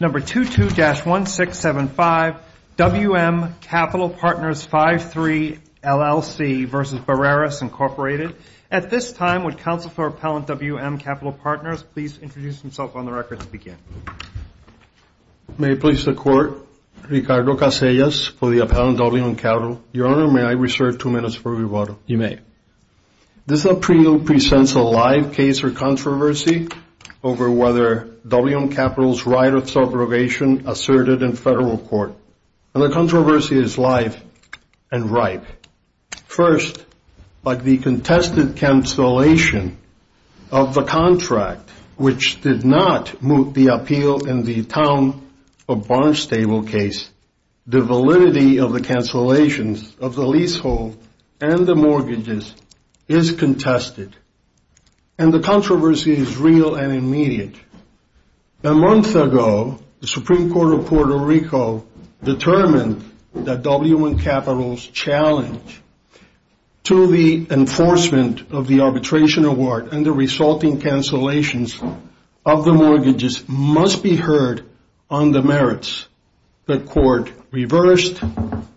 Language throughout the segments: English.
At this time, would Counselor Appellant WM Capital Partners please introduce himself on the record and begin. May it please the Court, Ricardo Casellas for the Appellant WM Capital. Your Honor, may I reserve two minutes for rebuttal? You may. This appeal presents a live case or controversy over whether WM Capital's right of subrogation asserted in federal court. And the controversy is live and ripe. First, by the contested cancellation of the contract, which did not moot the appeal in the Town of Barnstable case, the validity of the cancellations of the leasehold and the mortgages is contested. And the controversy is real and immediate. A month ago, the Supreme Court of Puerto Rico determined that WM Capital's challenge to the enforcement of the arbitration award and the resulting cancellations of the mortgages must be heard on the merits. The court reversed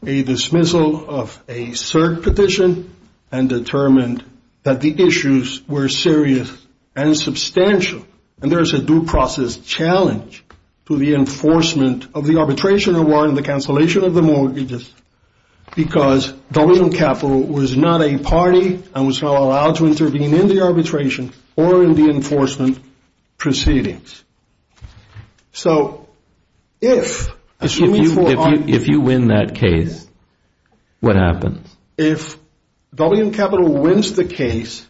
a dismissal of a cert petition and determined that the issues were serious and substantial. And there is a due process challenge to the enforcement of the arbitration award and the cancellation of the mortgages because WM Capital was not a party and was not allowed to intervene in the arbitration or in the enforcement proceedings. So if you win that case, what happens? If WM Capital wins the case,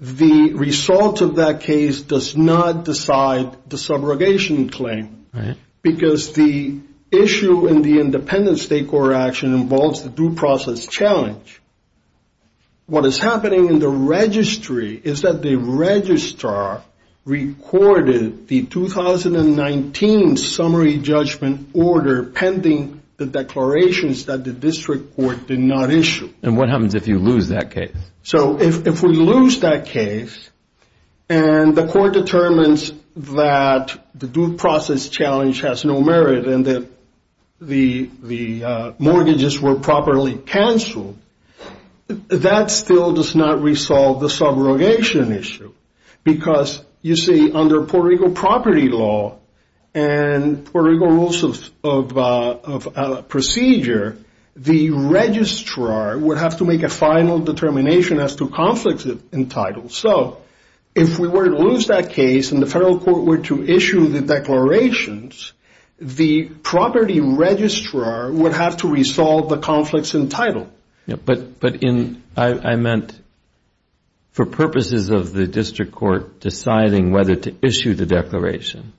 the result of that case does not decide the subrogation claim. Right. Because the issue in the independent state court action involves the due process challenge. What is happening in the registry is that the registrar recorded the 2019 summary judgment order pending the declarations that the district court did not issue. And what happens if you lose that case? So if we lose that case and the court determines that the due process challenge has no merit and that the mortgages were properly canceled, that still does not resolve the subrogation issue. Because, you see, under Puerto Rico property law and Puerto Rico rules of procedure, the registrar would have to make a final determination as to conflicts entitled. So if we were to lose that case and the federal court were to issue the declarations, the property registrar would have to resolve the conflicts entitled. But I meant for purposes of the district court deciding whether to issue the declaration,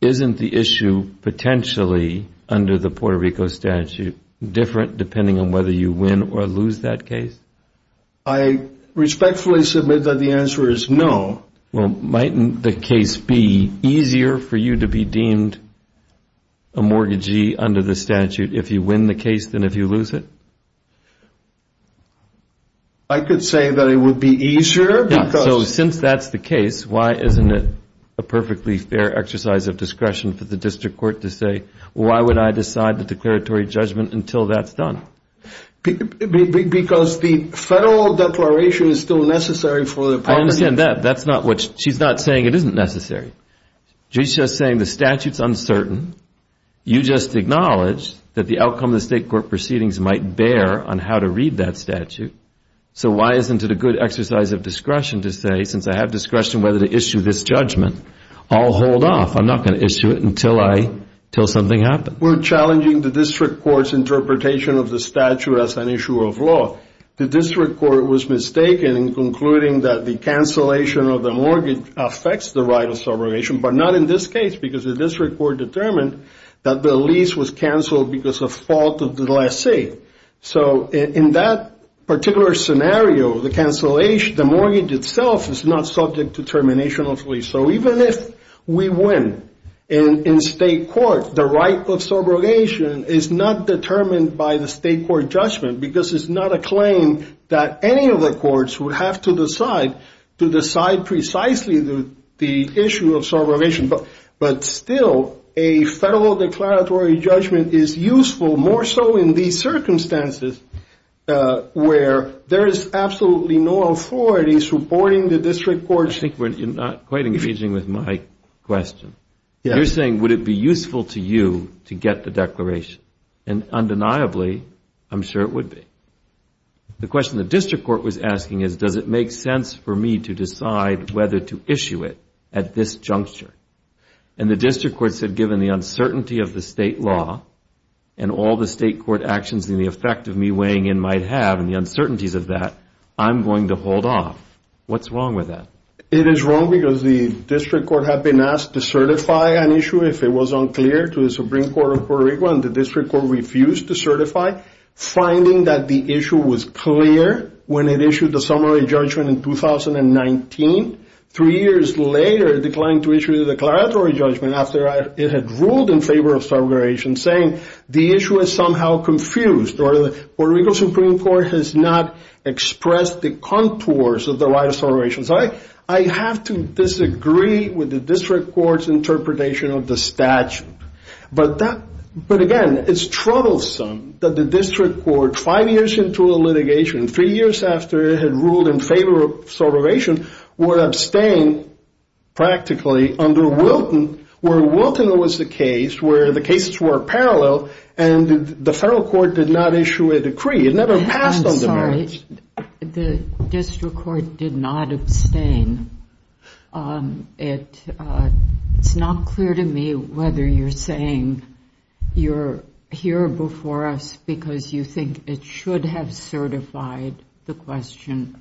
isn't the issue potentially under the Puerto Rico statute different depending on whether you win or lose that case? I respectfully submit that the answer is no. Well, might the case be easier for you to be deemed a mortgagee under the statute if you win the case than if you lose it? I could say that it would be easier. So since that's the case, why isn't it a perfectly fair exercise of discretion for the district court to say, why would I decide the declaratory judgment until that's done? Because the federal declaration is still necessary for the property. She's not saying it isn't necessary. She's just saying the statute's uncertain. You just acknowledged that the outcome of the state court proceedings might bear on how to read that statute. So why isn't it a good exercise of discretion to say, since I have discretion whether to issue this judgment, I'll hold off. I'm not going to issue it until something happens. We're challenging the district court's interpretation of the statute as an issue of law. The district court was mistaken in concluding that the cancellation of the mortgage affects the right of subrogation. But not in this case because the district court determined that the lease was canceled because of fault of the lessee. So in that particular scenario, the cancellation, the mortgage itself is not subject to termination of lease. So even if we win in state court, the right of subrogation is not determined by the state court judgment because it's not a claim that any of the courts would have to decide to decide precisely the issue of subrogation. But still, a federal declaratory judgment is useful more so in these circumstances where there is absolutely no authority supporting the district court. You're not quite engaging with my question. You're saying, would it be useful to you to get the declaration? And undeniably, I'm sure it would be. The question the district court was asking is, does it make sense for me to decide whether to issue it at this juncture? And the district court said, given the uncertainty of the state law and all the state court actions and the effect of me weighing in might have and the uncertainties of that, I'm going to hold off. What's wrong with that? It is wrong because the district court had been asked to certify an issue if it was unclear to the Supreme Court of Puerto Rico. And the district court refused to certify, finding that the issue was clear when it issued the summary judgment in 2019. Three years later, it declined to issue the declaratory judgment after it had ruled in favor of subrogation, saying the issue is somehow confused or the Puerto Rico Supreme Court has not expressed the contours of the right of subrogation. So I have to disagree with the district court's interpretation of the statute. But again, it's troublesome that the district court, five years into a litigation, three years after it had ruled in favor of subrogation, would abstain practically under Wilton, where Wilton was the case, where the cases were parallel, and the federal court did not issue a decree. It never passed on the merits. I'm sorry. The district court did not abstain. It's not clear to me whether you're saying you're here before us because you think it should have certified the question.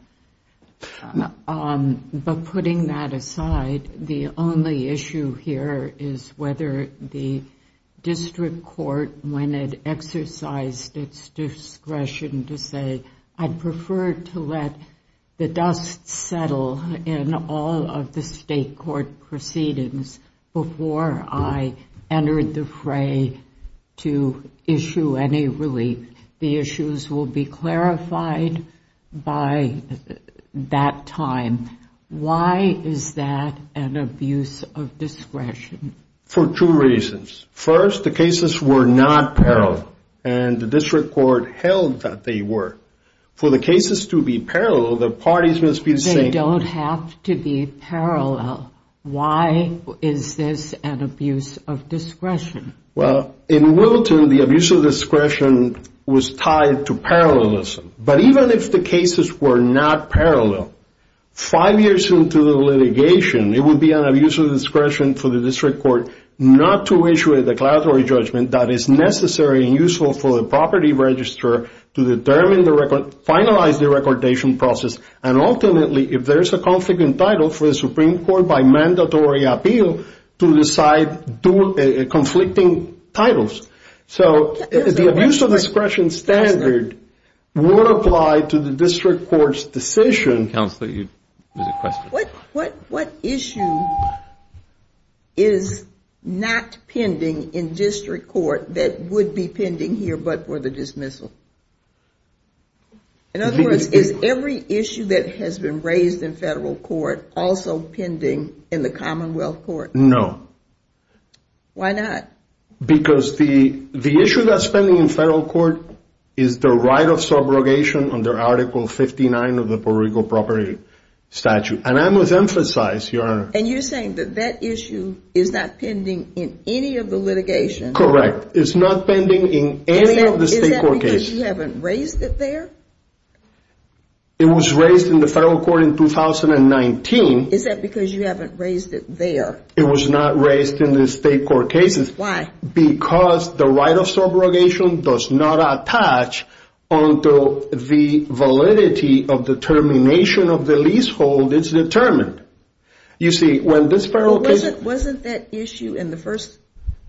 But putting that aside, the only issue here is whether the district court, when it exercised its discretion to say, I'd prefer to let the dust settle in all of the state court proceedings before I entered the fray to issue any relief. The issues will be clarified by that time. Why is that an abuse of discretion? For two reasons. First, the cases were not parallel, and the district court held that they were. For the cases to be parallel, the parties must be the same. They don't have to be parallel. Why is this an abuse of discretion? Well, in Wilton, the abuse of discretion was tied to parallelism. But even if the cases were not parallel, five years into the litigation, it would be an abuse of discretion for the district court not to issue a declaratory judgment that is necessary and useful for the property register to finalize the recordation process. And ultimately, if there's a conflict in title, for the Supreme Court, by mandatory appeal, to decide conflicting titles. So the abuse of discretion standard would apply to the district court's decision. What issue is not pending in district court that would be pending here but for the dismissal? In other words, is every issue that has been raised in federal court also pending in the Commonwealth Court? No. Why not? Because the issue that's pending in federal court is the right of subrogation under Article 59 of the Puerto Rico Property Statute. And I must emphasize, Your Honor. And you're saying that that issue is not pending in any of the litigations? Correct. It's not pending in any of the state court cases. Is that because you haven't raised it there? It was raised in the federal court in 2019. Is that because you haven't raised it there? It was not raised in the state court cases. Why? Because the right of subrogation does not attach until the validity of determination of the leasehold is determined. Wasn't that issue in the first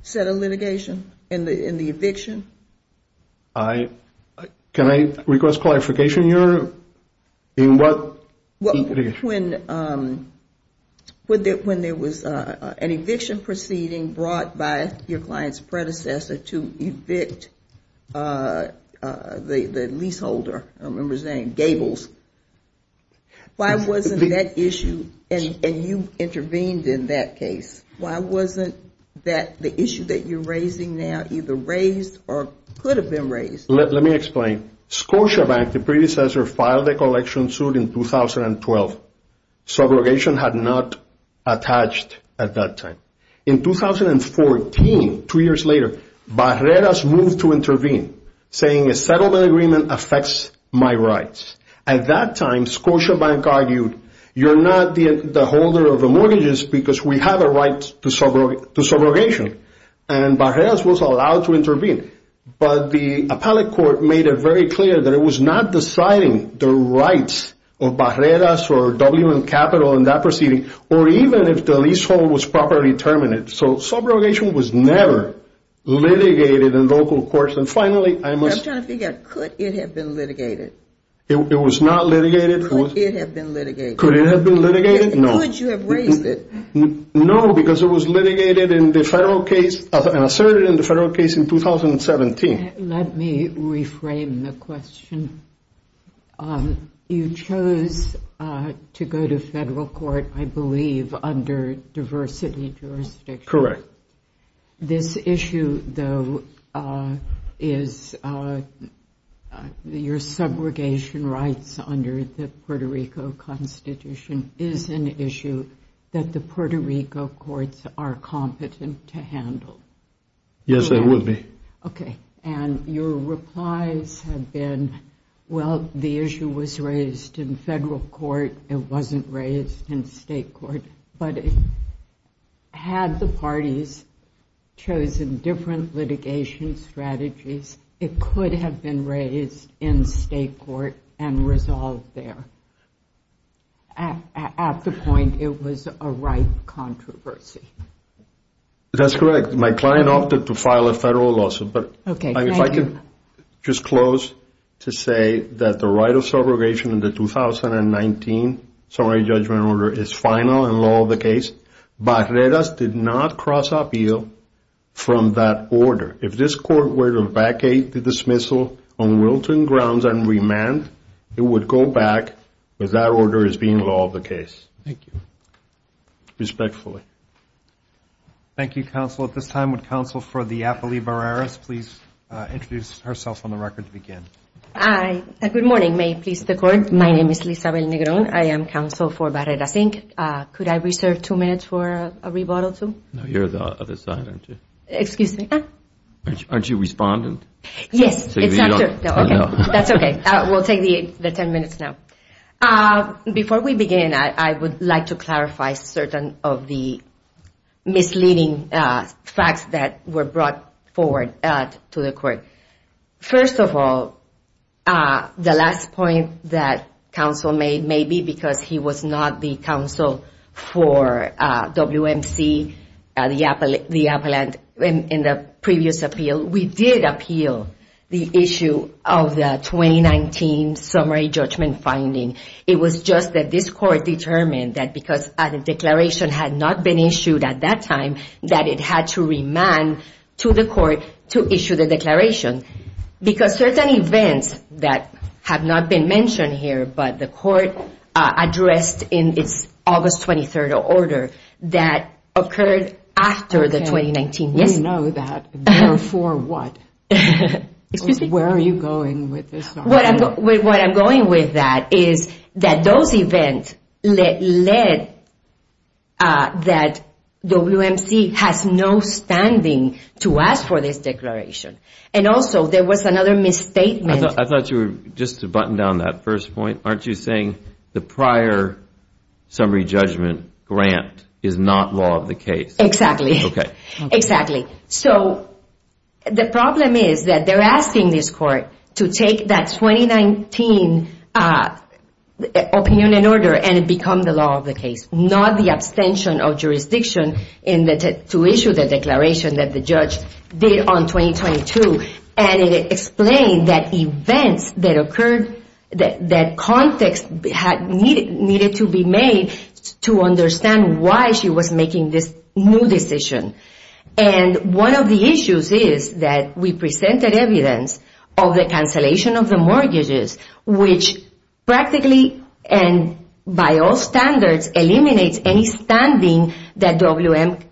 set of litigation, in the eviction? Can I request clarification, Your Honor? In what litigation? When there was an eviction proceeding brought by your client's predecessor to evict the leaseholder, I remember his name, Gables. Why wasn't that issue, and you intervened in that case, why wasn't the issue that you're raising now either raised or could have been raised? Let me explain. Scotiabank, the predecessor, filed a collection suit in 2012. Subrogation had not attached at that time. In 2014, two years later, Barreras moved to intervene, saying a settlement agreement affects my rights. At that time, Scotiabank argued, you're not the holder of the mortgages because we have a right to subrogation, and Barreras was allowed to intervene. But the appellate court made it very clear that it was not deciding the rights of Barreras or WM Capital in that proceeding, or even if the leasehold was properly terminated. So subrogation was never litigated in local courts. I'm trying to figure out, could it have been litigated? It was not litigated. Could it have been litigated? Could it have been litigated? No. Could you have raised it? No, because it was litigated in the federal case and asserted in the federal case in 2017. Let me reframe the question. You chose to go to federal court, I believe, under diversity jurisdiction. Correct. This issue, though, is your subrogation rights under the Puerto Rico Constitution is an issue that the Puerto Rico courts are competent to handle. Yes, they would be. Okay. And your replies have been, well, the issue was raised in federal court. It wasn't raised in state court. But had the parties chosen different litigation strategies, it could have been raised in state court and resolved there. At the point, it was a right controversy. That's correct. My client opted to file a federal lawsuit. Okay, thank you. But if I could just close to say that the right of subrogation in the 2019 summary judgment order is final and law of the case. Barreras did not cross appeal from that order. If this court were to vacate the dismissal on wilting grounds and remand, it would go back, but that order is being law of the case. Thank you. Respectfully. Thank you. Thank you, counsel. At this time, would counsel for the Apolli Barreras please introduce herself on the record to begin? Good morning. May it please the court. My name is Lizabel Negron. I am counsel for Barreras Inc. Could I reserve two minutes for a rebuttal, too? No, you're the other side, aren't you? Excuse me? Aren't you a respondent? Yes, it's after. Oh, no. That's okay. We'll take the ten minutes now. Before we begin, I would like to clarify certain of the misleading facts that were brought forward to the court. First of all, the last point that counsel made may be because he was not the counsel for WMC, the appellant in the previous appeal. We did appeal the issue of the 2019 summary judgment finding. It was just that this court determined that because a declaration had not been issued at that time, that it had to remand to the court to issue the declaration. Because certain events that have not been mentioned here, but the court addressed in its August 23rd order that occurred after the 2019. We know that. Therefore what? Excuse me? Where are you going with this? What I'm going with that is that those events led that WMC has no standing to ask for this declaration. And also there was another misstatement. I thought you were just to button down that first point. Aren't you saying the prior summary judgment grant is not law of the case? Exactly. Okay. It is not law of the case to take that 2019 opinion and order and it become the law of the case. Not the abstention of jurisdiction to issue the declaration that the judge did on 2022. And it explained that events that occurred, that context needed to be made to understand why she was making this new decision. And one of the issues is that we presented evidence of the cancellation of the mortgages, which practically and by all standards eliminates any standing that WMC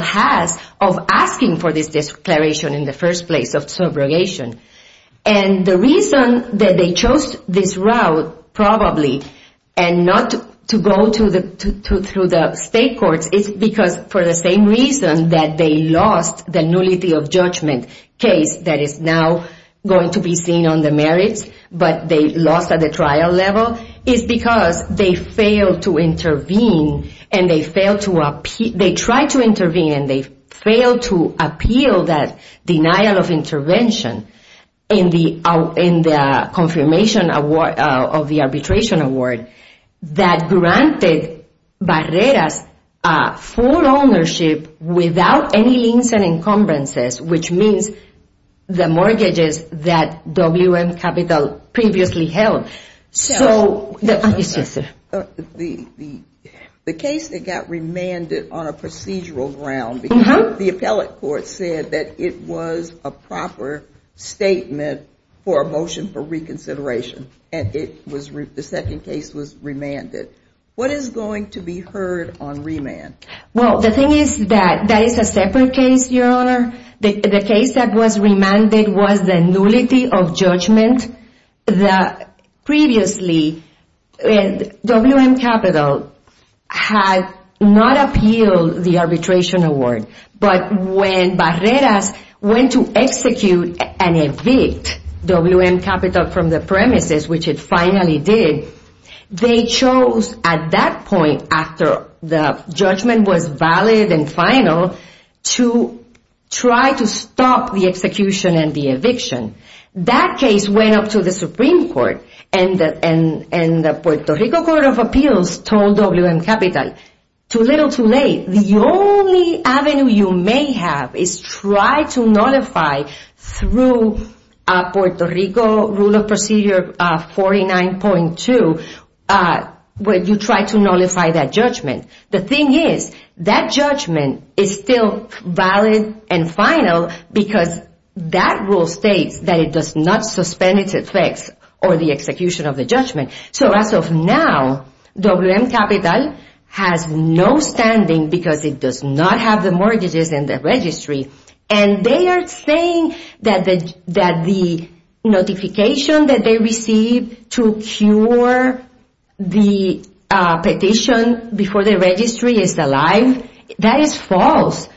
has of asking for this declaration in the first place of subrogation. And the reason that they chose this route probably and not to go through the state courts is because for the same reason that they lost the nullity of judgment case that is now going to be seen on the merits, but they lost at the trial level, is because they failed to intervene and they failed to appeal that denial of intervention in the confirmation of the arbitration award that granted Barreras full ownership without any liens and encumbrances, which means the mortgages that WMC previously held. The case that got remanded on a procedural ground because the appellate court said that it was a proper statement for a motion for reconsideration and the second case was remanded. What is going to be heard on remand? Well, the thing is that that is a separate case, Your Honor. The case that was remanded was the nullity of judgment. Previously, WM Capital had not appealed the arbitration award, but when Barreras went to execute and evict WM Capital from the premises, which it finally did, they chose at that point after the judgment was valid and final to try to stop the execution and the eviction. That case went up to the Supreme Court and the Puerto Rico Court of Appeals told WM Capital, too little, too late. The only avenue you may have is try to nullify through Puerto Rico Rule of Procedure 49.2, where you try to nullify that judgment. The thing is that judgment is still valid and final because that rule states that it does not suspend its effects or the execution of the judgment. So as of now, WM Capital has no standing because it does not have the mortgages in the registry and they are saying that the notification that they received to cure the petition before the registry is alive, that is false.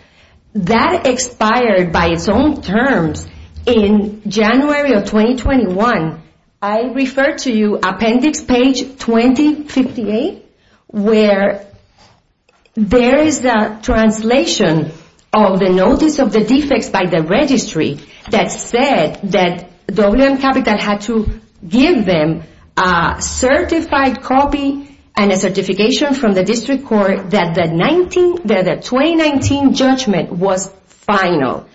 That expired by its own terms in January of 2021. I refer to you appendix page 2058, where there is a translation of the notice of the defects by the registry that said that WM Capital had to give them a certified copy and a certification from the district court that the 2019 judgment was final.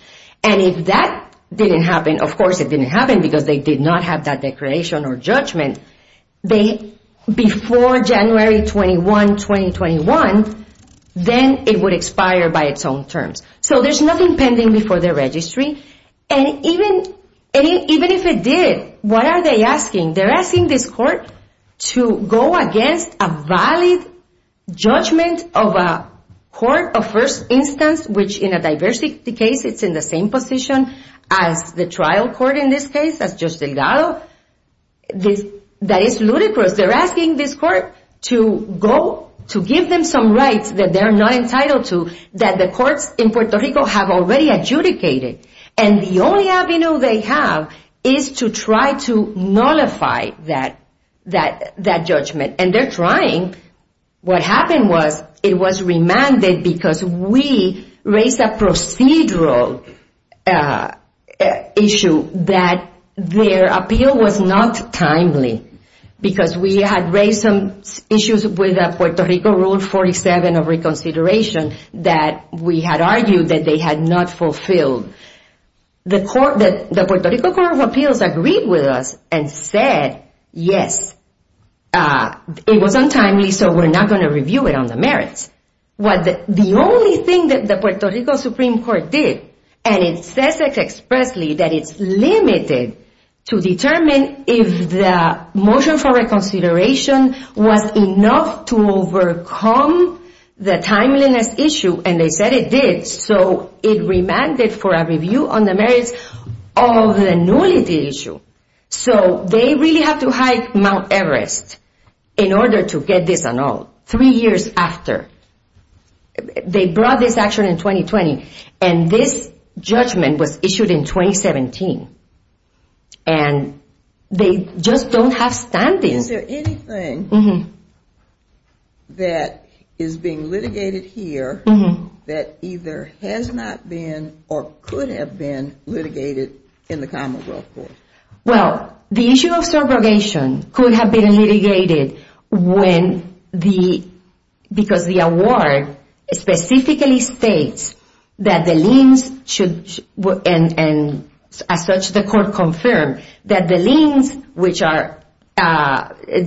And if that didn't happen, of course it didn't happen because they did not have that declaration or judgment, before January 21, 2021, then it would expire by its own terms. So there's nothing pending before the registry. And even if it did, what are they asking? They're asking this court to go against a valid judgment of a court of first instance, which in a diversity case, it's in the same position as the trial court in this case, as Judge Delgado. That is ludicrous. They're asking this court to go to give them some rights that they're not entitled to, that the courts in Puerto Rico have already adjudicated. And the only avenue they have is to try to nullify that judgment. And they're trying. What happened was it was remanded because we raised a procedural issue that their appeal was not timely. Because we had raised some issues with the Puerto Rico Rule 47 of reconsideration that we had argued that they had not fulfilled. The Puerto Rico Court of Appeals agreed with us and said, yes, it was untimely, so we're not going to review it on the merits. The only thing that the Puerto Rico Supreme Court did, and it says expressly that it's limited to determine if the motion for reconsideration was enough to overcome the timeliness issue. And they said it did. So it remanded for a review on the merits of the nullity issue. So they really have to hide Mount Everest in order to get this annulled. Three years after. They brought this action in 2020, and this judgment was issued in 2017. And they just don't have standing. Is there anything that is being litigated here that either has not been or could have been litigated in the Commonwealth Court? Well, the issue of surrogation could have been litigated because the award specifically states that the liens should, and as such the court confirmed, that the liens, which are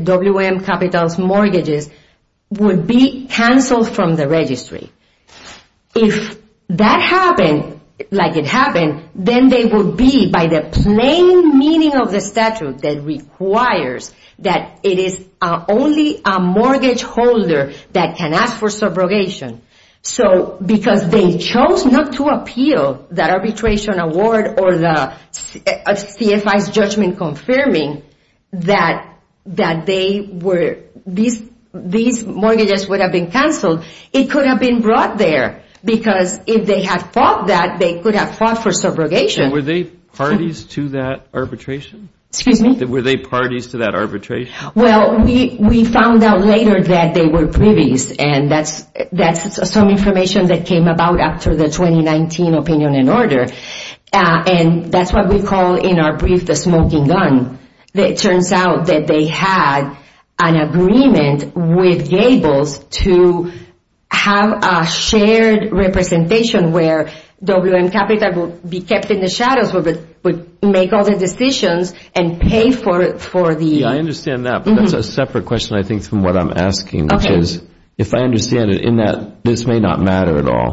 WM Capital's mortgages, would be canceled from the registry. If that happened like it happened, then they would be by the plain meaning of the statute that requires that it is only a mortgage holder that can ask for surrogation. So because they chose not to appeal that arbitration award or the CFI's judgment confirming that these mortgages would have been canceled, it could have been brought there. Because if they had fought that, they could have fought for surrogation. Were they parties to that arbitration? Excuse me? Were they parties to that arbitration? Well, we found out later that they were privies. And that's some information that came about after the 2019 opinion and order. And that's what we call in our brief the smoking gun. It turns out that they had an agreement with Gables to have a shared representation where WM Capital would be kept in the shadows, would make all the decisions and pay for the... Yeah, I understand that. But that's a separate question, I think, from what I'm asking, which is if I understand it in that this may not matter at all.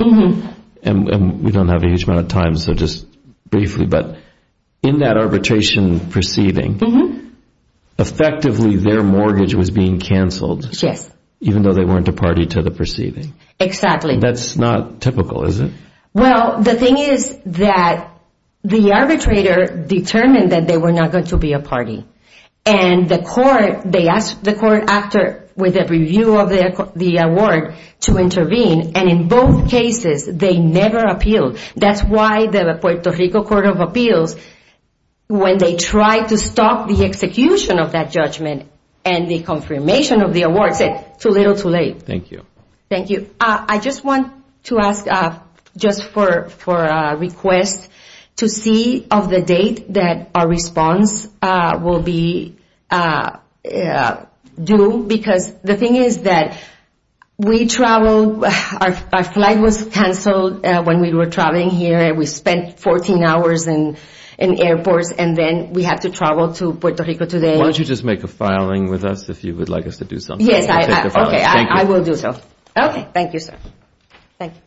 And we don't have a huge amount of time, so just briefly. But in that arbitration proceeding, effectively their mortgage was being canceled. Yes. Even though they weren't a party to the proceeding. Exactly. That's not typical, is it? Well, the thing is that the arbitrator determined that they were not going to be a party. And the court, they asked the court after with a review of the award to intervene. And in both cases, they never appealed. That's why the Puerto Rico Court of Appeals, when they tried to stop the execution of that judgment and the confirmation of the award, said too little, too late. Thank you. Thank you. I just want to ask, just for a request, to see of the date that our response will be due. Because the thing is that we travel. Our flight was canceled when we were traveling here. We spent 14 hours in airports. And then we have to travel to Puerto Rico today. Why don't you just make a filing with us if you would like us to do something? Yes. Okay, I will do so. Okay. Thank you, sir. Thank you.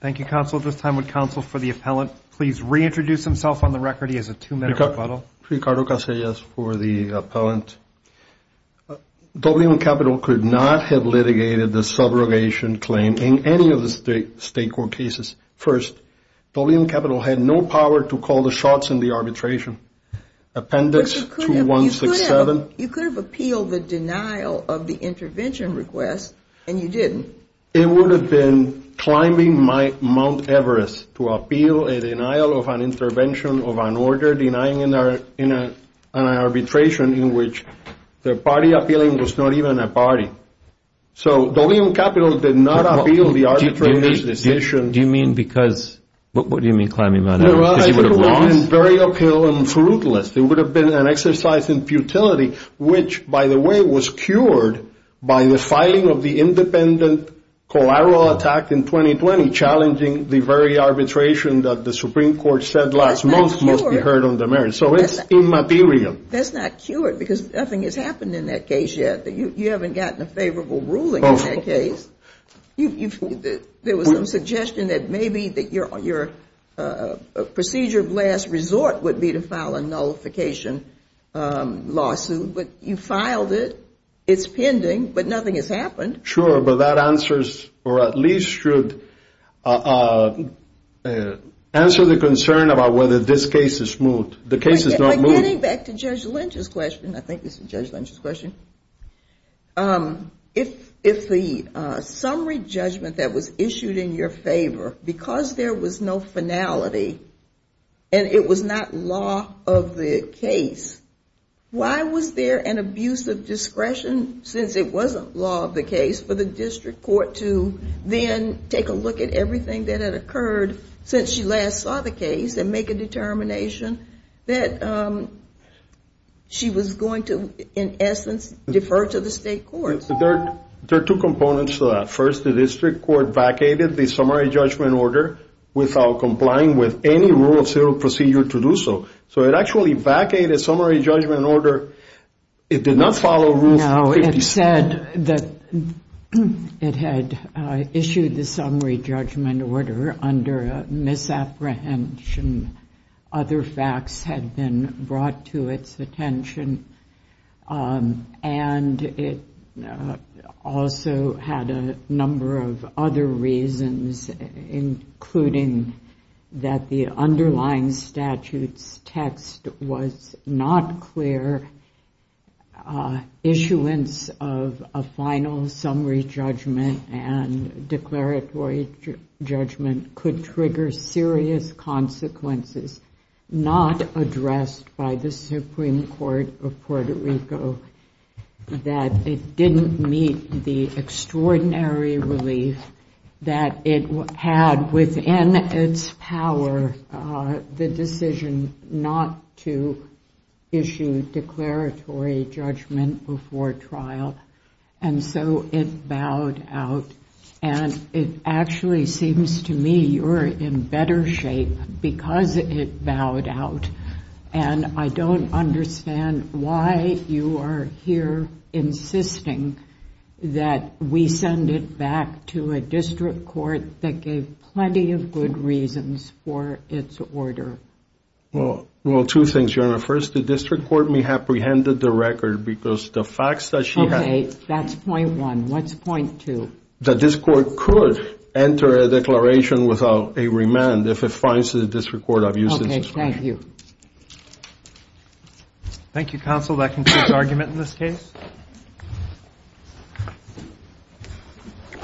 Thank you, counsel. At this time, would counsel for the appellant please reintroduce himself on the record? He has a two-minute rebuttal. Ricardo Casillas for the appellant. WM Capital could not have litigated the subrogation claim in any of the state court cases. First, WM Capital had no power to call the shots in the arbitration. Appendix 2167. You could have appealed the denial of the intervention request, and you didn't. It would have been climbing Mount Everest to appeal a denial of an intervention of an order denying an arbitration in which the party appealing was not even a party. So WM Capital did not appeal the arbitration decision. Do you mean because? What do you mean climbing Mount Everest? Because you would have lost? It would have been very uphill and fruitless. It would have been an exercise in futility which, by the way, was cured by the filing of the independent collateral attack in 2020 challenging the very arbitration that the Supreme Court said last month must be heard on the merits. So it's immaterial. That's not cured because nothing has happened in that case yet. You haven't gotten a favorable ruling in that case. There was some suggestion that maybe your procedure of last resort would be to file a nullification lawsuit, but you filed it. It's pending, but nothing has happened. Sure, but that answers or at least should answer the concern about whether this case is moved. The case is not moved. Getting back to Judge Lynch's question, I think this is Judge Lynch's question. If the summary judgment that was issued in your favor, because there was no finality and it was not law of the case, why was there an abuse of discretion since it wasn't law of the case for the district court to then take a look at everything that had There are two components to that. First, the district court vacated the summary judgment order without complying with any rule of civil procedure to do so. So it actually vacated a summary judgment order. It did not follow Rule 56. No, it said that it had issued the summary judgment order under a misapprehension. Other facts had been brought to its attention, and it also had a number of other reasons, including that the underlying statute's text was not clear. Issuance of a final summary judgment and declaratory judgment could trigger serious consequences not addressed by the Supreme Court of Puerto Rico, that it didn't meet the extraordinary relief that it had within its power, the decision not to issue declaratory judgment before trial. And so it bowed out. And it actually seems to me you're in better shape because it bowed out. And I don't understand why you are here insisting that we send it back to a district court that gave plenty of good reasons for its order. Well, two things, Your Honor. First, the district court may have preempted the record because the facts that she had Okay, that's point one. What's point two? That this court could enter a declaration without a remand if it finds that the district court abused its discretion. Thank you. Thank you, counsel. That concludes argument in this case.